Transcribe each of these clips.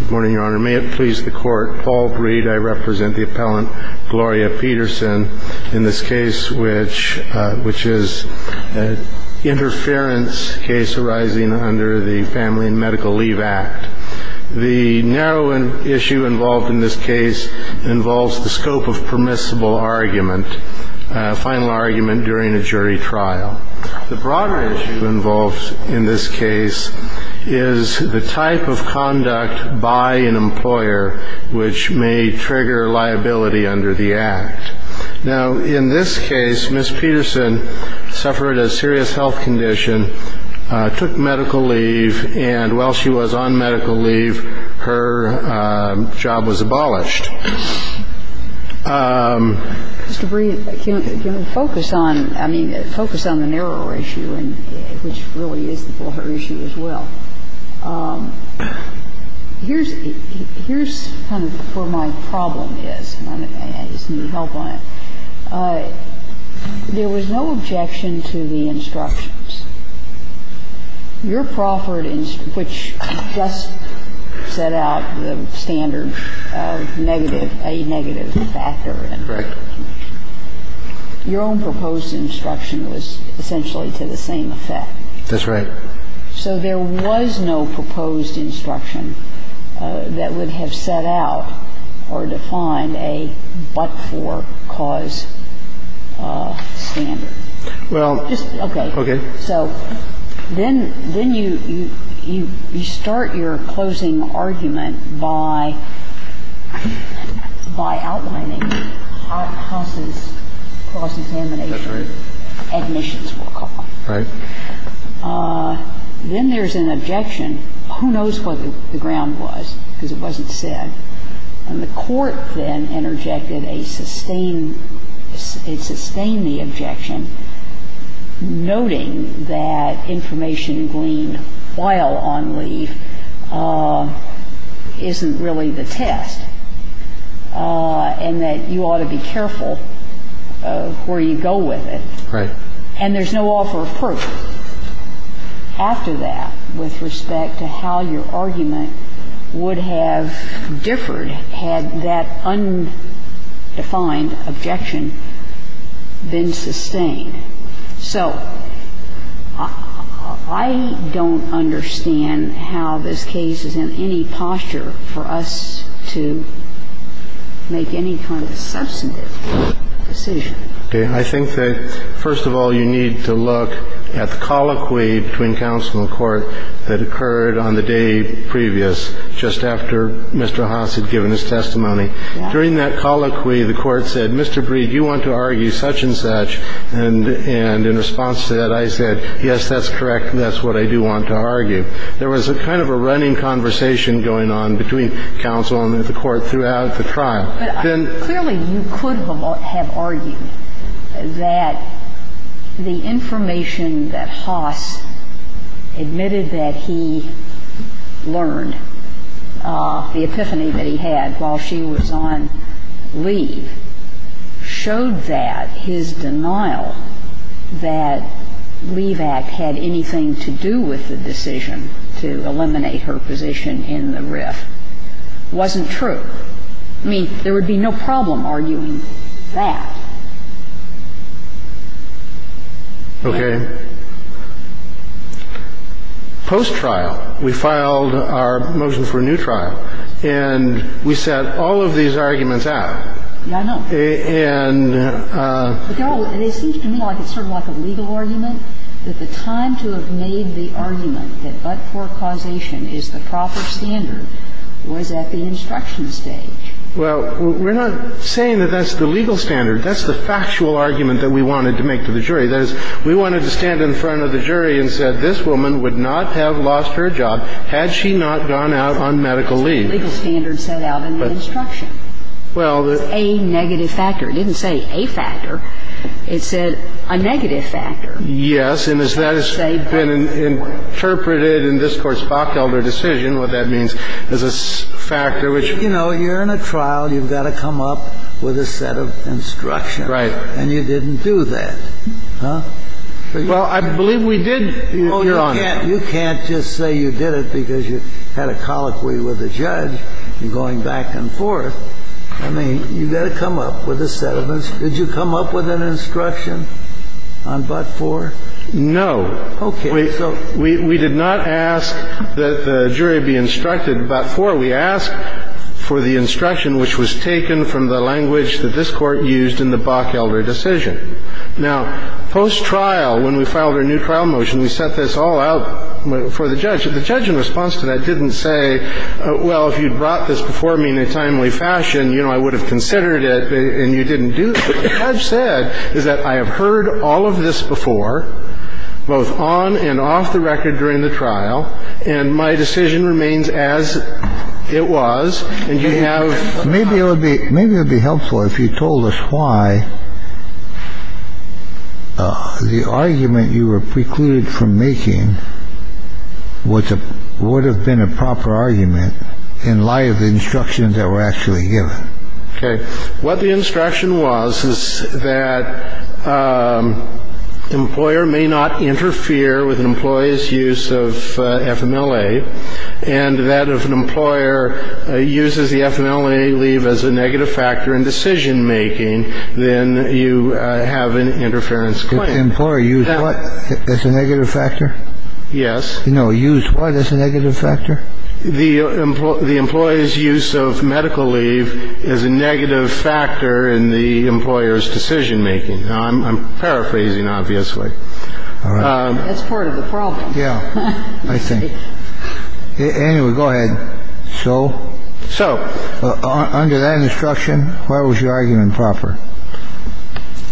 Good morning, Your Honor. May it please the Court, Paul Breed, I represent the appellant, Gloria Peterson, in this case which is an interference case arising under the Family and Medical Leave Act. The narrow issue involved in this case involves the scope of permissible argument, final argument during a jury trial. The broader issue involved in this case is the type of conduct by an employer which may trigger liability under the Act. Now, in this case, Ms. Peterson suffered a serious health condition, took medical leave, and while she was on medical leave, her job was abolished. Mr. Breed, can you focus on, I mean, focus on the narrower issue, which really is the broader issue as well? Here's kind of where my problem is, and I just need help on it. There was no objection to the instructions. Your proffered instruction, which just set out the standard negative, a negative factor. Right. Your own proposed instruction was essentially to the same effect. That's right. So there was no proposed instruction that would have set out or defined a but-for cause standard. Well, okay. So then you start your closing argument by outlining Haas's cross-examination. That's right. Admissions for a cause. Right. Then there's an objection. Who knows what the ground was, because it wasn't said. And the Court then interjected a sustain the objection, noting that information gleaned while on leave isn't really the test, and that you ought to be careful where you go with it. Right. And there's no offer of proof after that with respect to how your argument would have differed had that undefined objection been sustained. So I don't understand how this case is in any posture for us to make any kind of substantive decision. Okay. I think that, first of all, you need to look at the colloquy between counsel and court that occurred on the day previous, just after Mr. Haas had given his testimony. During that colloquy, the Court said, Mr. Breed, you want to argue such and such. And in response to that, I said, yes, that's correct, and that's what I do want to argue. There was a kind of a running conversation going on between counsel and the Court throughout the trial. But clearly you could have argued that the information that Haas admitted that he learned, the epiphany that he had while she was on leave, showed that his denial that Leave Act had anything to do with the decision to eliminate her position in the RIF wasn't true. I mean, there would be no problem arguing that. Okay. Post-trial. We filed our motion for a new trial, and we set all of these arguments out. Yeah, I know. And they're all, and it seems to me like it's sort of like a legal argument, that the time to have made the argument that but-for causation is the proper standard was at the instruction stage. Well, we're not saying that that's the legal standard. That's the factual argument that we wanted to make to the jury. That is, we wanted to stand in front of the jury and said, this woman would not have lost her job had she not gone out on medical leave. That's the legal standard set out in the instruction. Well, the ---- It's a negative factor. It didn't say a factor. It said a negative factor. And as that has been interpreted in this Court's Bockelder decision, what that means, is a factor which ---- You know, you're in a trial. You've got to come up with a set of instructions. Right. And you didn't do that. Huh? Well, I believe we did, Your Honor. Oh, you can't just say you did it because you had a colloquy with the judge, you're going back and forth. I mean, you've got to come up with a set of instructions. Did you come up with an instruction on but-for? No. Okay. We did not ask that the jury be instructed but-for. We asked for the instruction which was taken from the language that this Court used in the Bockelder decision. Now, post-trial, when we filed our new trial motion, we set this all out for the judge. The judge, in response to that, didn't say, well, if you'd brought this before me in a timely fashion, you know, I would have considered it and you didn't do it. What the judge said is that I have heard all of this before, both on and off the record during the trial, and my decision remains as it was, and you have... Maybe it would be helpful if you told us why the argument you were precluded from making would have been a proper argument in light of the instructions that were actually given. Okay. What the instruction was is that an employer may not interfere with an employee's use of FMLA, and that if an employer uses the FMLA leave as a negative factor in decision-making, then you have an interference claim. If the employer used what as a negative factor? Yes. No, used what as a negative factor? The employee's use of medical leave is a negative factor in the employer's decision-making. I'm paraphrasing, obviously. All right. That's part of the problem. Yeah, I think. Anyway, go ahead. So? So. Under that instruction, why was your argument improper?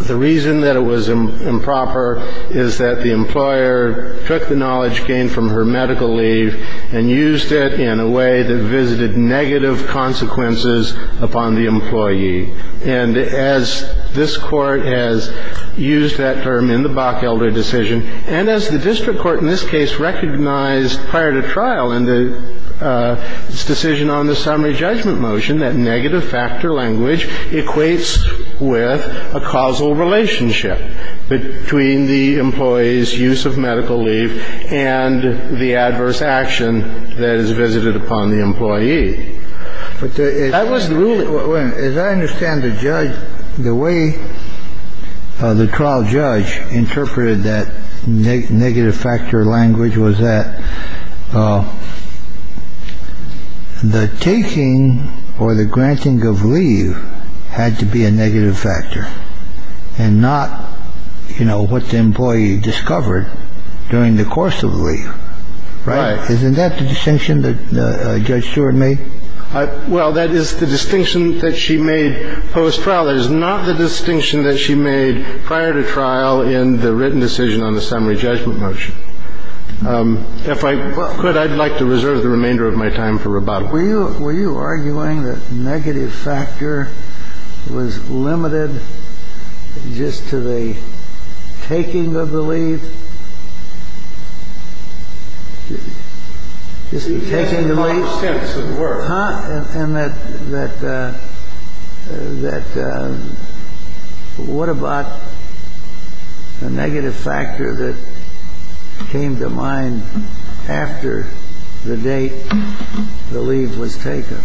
The reason that it was improper is that the employer took the knowledge gained from her medical leave and used it in a way that visited negative consequences upon the employee. And as this Court has used that term in the Bok-Elder decision, and as the district court in this case recognized prior to trial in its decision on the summary judgment motion, that negative factor language equates with a causal relationship between the employee's use of medical leave and the adverse action that is visited upon the employee. But that was the ruling. As I understand the judge, the way the trial judge interpreted that negative factor language was that the taking or the granting of leave had to be a negative factor and not, you know, what the employee discovered during the course of leave. Right. Isn't that the distinction that Judge Stewart made? Well, that is the distinction that she made post-trial. That is not the distinction that she made prior to trial in the written decision on the summary judgment motion. If I could, I'd like to reserve the remainder of my time for rebuttal. Were you arguing that negative factor was limited just to the taking of the leave? Just the taking of the leave? In all sense of the word. And that what about the negative factor that came to mind after the date the leave was taken?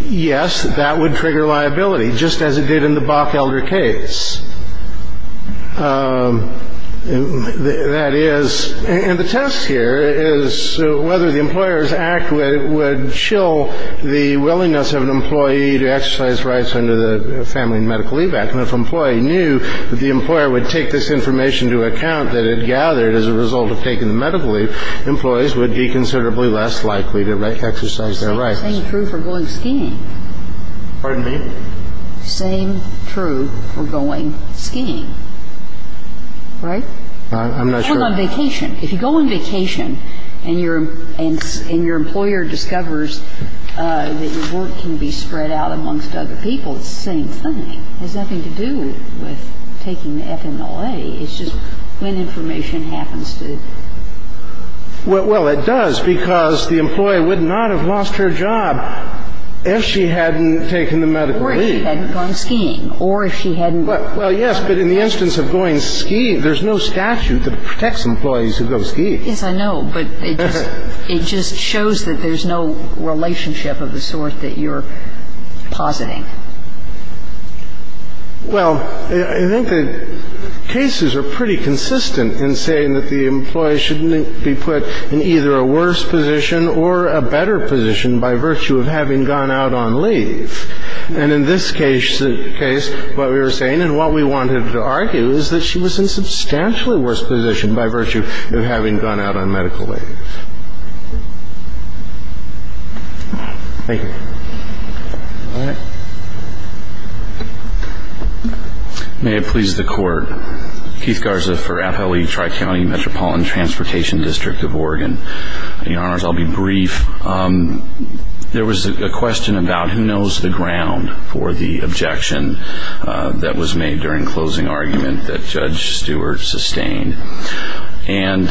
Yes, that would trigger liability, just as it did in the Bok-Elder case. That is, and the test here is whether the Employers Act would shill the willingness of an employee to exercise rights under the Family and Medical Leave Act. And if an employee knew that the employer would take this information into account that it gathered as a result of taking the medical leave, employees would be considerably less likely to exercise their rights. Same true for going skiing. Pardon me? Same true for going skiing. Right? I'm not sure. If you're on vacation, if you go on vacation and your employer discovers that your work can be spread out amongst other people, it's the same thing. It has nothing to do with taking the FMLA. It's just when information happens to you. Well, it does, because the employee would not have lost her job if she hadn't taken the medical leave. Or if she hadn't gone skiing. Or if she hadn't. Well, yes, but in the instance of going skiing, there's no statute that protects employees who go skiing. Yes, I know, but it just shows that there's no relationship of the sort that you're positing. Well, I think that cases are pretty consistent in saying that the employee shouldn't be put in either a worse position or a better position by virtue of having gone out on leave. And in this case, what we were saying and what we wanted to argue is that she was in substantially worse position by virtue of having gone out on medical leave. Thank you. All right. May it please the Court. Keith Garza for FLE Tri-County Metropolitan Transportation District of Oregon. Your Honors, I'll be brief. There was a question about who knows the ground for the objection that was made during closing argument that Judge Stewart sustained. And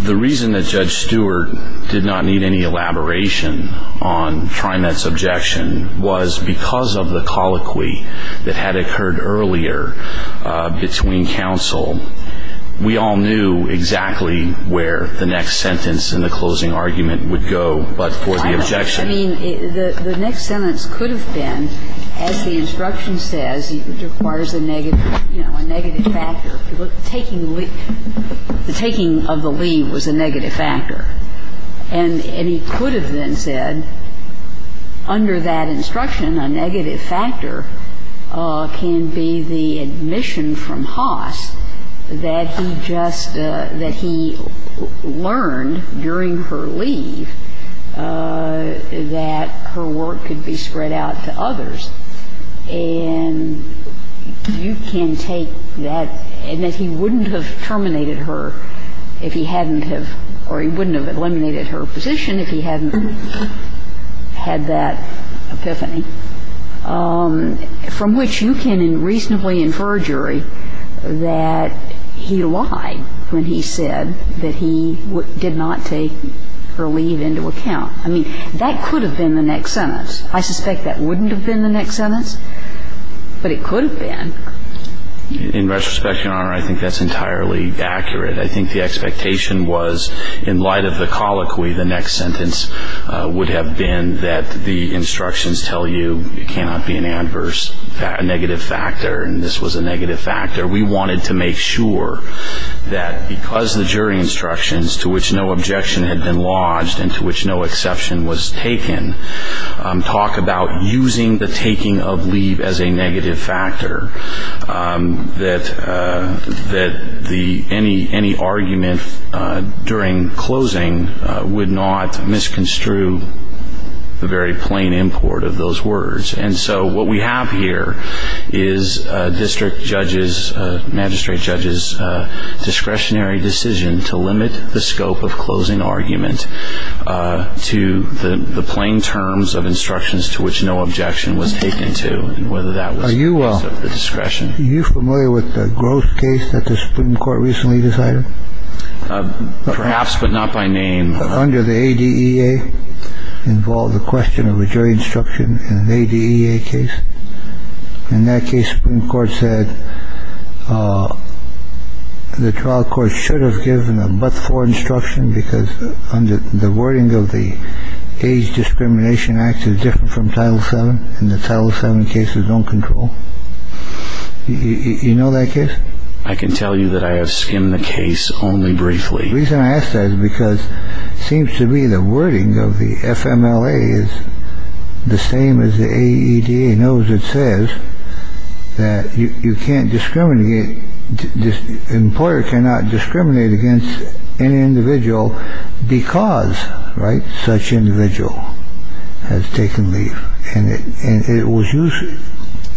the reason that Judge Stewart did not need any elaboration on TriMet's objection was because of the colloquy that had occurred earlier between counsel. We all knew exactly where the next sentence in the closing argument would go but for the objection. I know. I mean, the next sentence could have been, as the instruction says, it requires a negative, you know, a negative factor. The taking of the leave was a negative factor. And he could have then said, under that instruction, a negative factor can be the admission from Haas that he just, that he learned during her leave that her work could be spread out to others. And you can take that, and that he wouldn't have terminated her if he hadn't have, or he wouldn't have eliminated her position if he hadn't had that epiphany, from which you can reasonably infer, Jury, that he lied when he said that he did not take her leave into account. I mean, that could have been the next sentence. I suspect that wouldn't have been the next sentence, but it could have been. In retrospect, Your Honor, I think that's entirely accurate. I think the expectation was, in light of the colloquy, the next sentence would have been that the instructions tell you it cannot be an adverse negative factor, and this was a negative factor. We wanted to make sure that because the jury instructions, to which no objection had been lodged and to which no exception was taken, talk about using the taking of leave as a negative factor, that any argument during closing would not misconstrue the very plain import of those words. And so what we have here is a district judge's, magistrate judge's, discretionary decision to limit the scope of closing argument to the plain terms of instructions to which no objection was taken to, and whether that was a case of discretion. Are you familiar with the growth case that the Supreme Court recently decided? Perhaps, but not by name. Under the ADEA, involved the question of a jury instruction in an ADEA case. In that case, the Supreme Court said the trial court should have given a but-for instruction because the wording of the Age Discrimination Act is different from Title VII, and the Title VII cases don't control. You know that case? I can tell you that I have skimmed the case only briefly. The reason I ask that is because it seems to me the wording of the FMLA is the same as the AEDA. It knows it says that you can't discriminate, employer cannot discriminate against an individual because, right, such individual has taken leave. And it was used,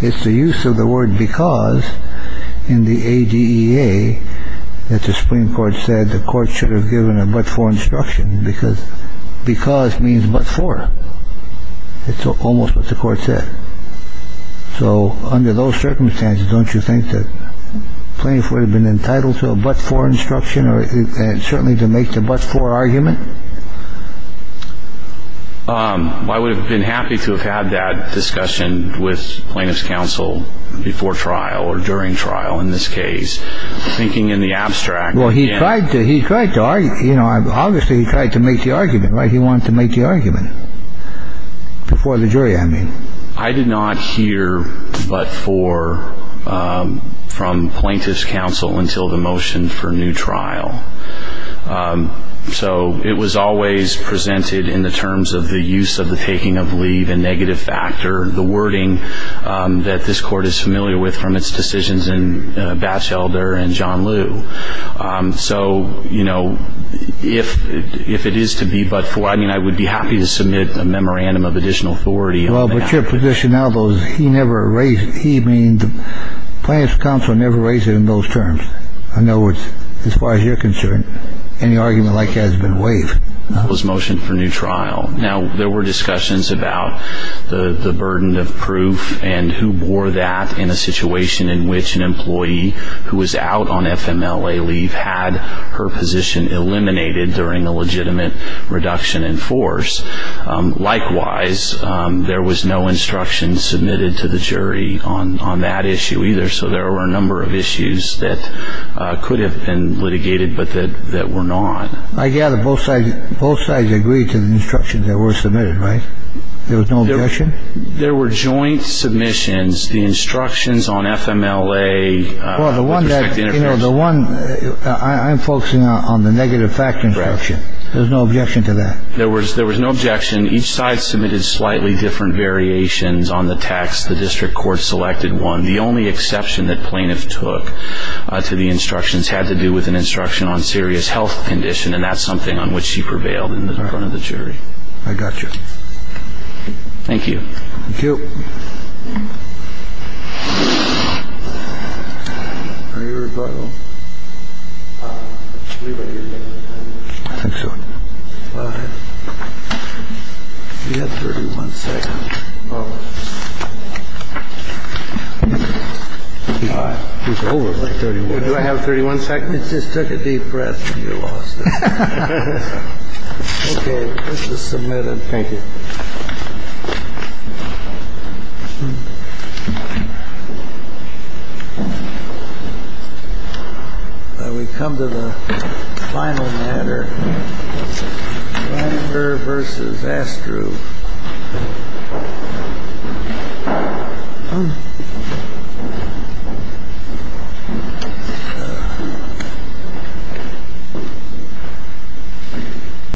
it's the use of the word because in the ADEA that the Supreme Court said the court should have given a but-for instruction because because means but-for. It's almost what the court said. So under those circumstances, don't you think the plaintiff would have been entitled to a but-for instruction and certainly to make the but-for argument? I would have been happy to have had that discussion with plaintiff's counsel before trial or during trial in this case. Thinking in the abstract. Well, he tried to argue, you know, obviously he tried to make the argument, right? He wanted to make the argument before the jury, I mean. I did not hear but-for from plaintiff's counsel until the motion for new trial. So it was always presented in the terms of the use of the taking of leave and negative factor. The wording that this court is familiar with from its decisions in Batchelder and John Lew. So, you know, if it is to be but-for, I mean, I would be happy to submit a memorandum of additional authority. Well, but your position now, though, is he never raised it. He means plaintiff's counsel never raised it in those terms. I know it's, as far as you're concerned, any argument like that has been waived. It was motion for new trial. Now, there were discussions about the burden of proof and who bore that in a situation in which an employee who was out on FMLA leave had her position eliminated during a legitimate reduction in force. Likewise, there was no instruction submitted to the jury on that issue either. So there were a number of issues that could have been litigated but that were not. I gather both sides both sides agree to the instructions that were submitted. Right. There was no objection. There were joint submissions. The instructions on FMLA. Well, the one that you know, the one I'm focusing on, the negative factor. There's no objection to that. There was there was no objection. Each side submitted slightly different variations on the text. The district court selected one. The only exception that plaintiff took to the instructions had to do with an instruction on serious health condition. And that's something on which she prevailed in the front of the jury. I got you. Thank you. Thank you. Are you rebuttal? I think so. You have 31 seconds. He's over 31. Do I have 31 seconds? It just took a deep breath and you lost it. OK, this is submitted. Thank you. We come to the final matter. Versus Astro.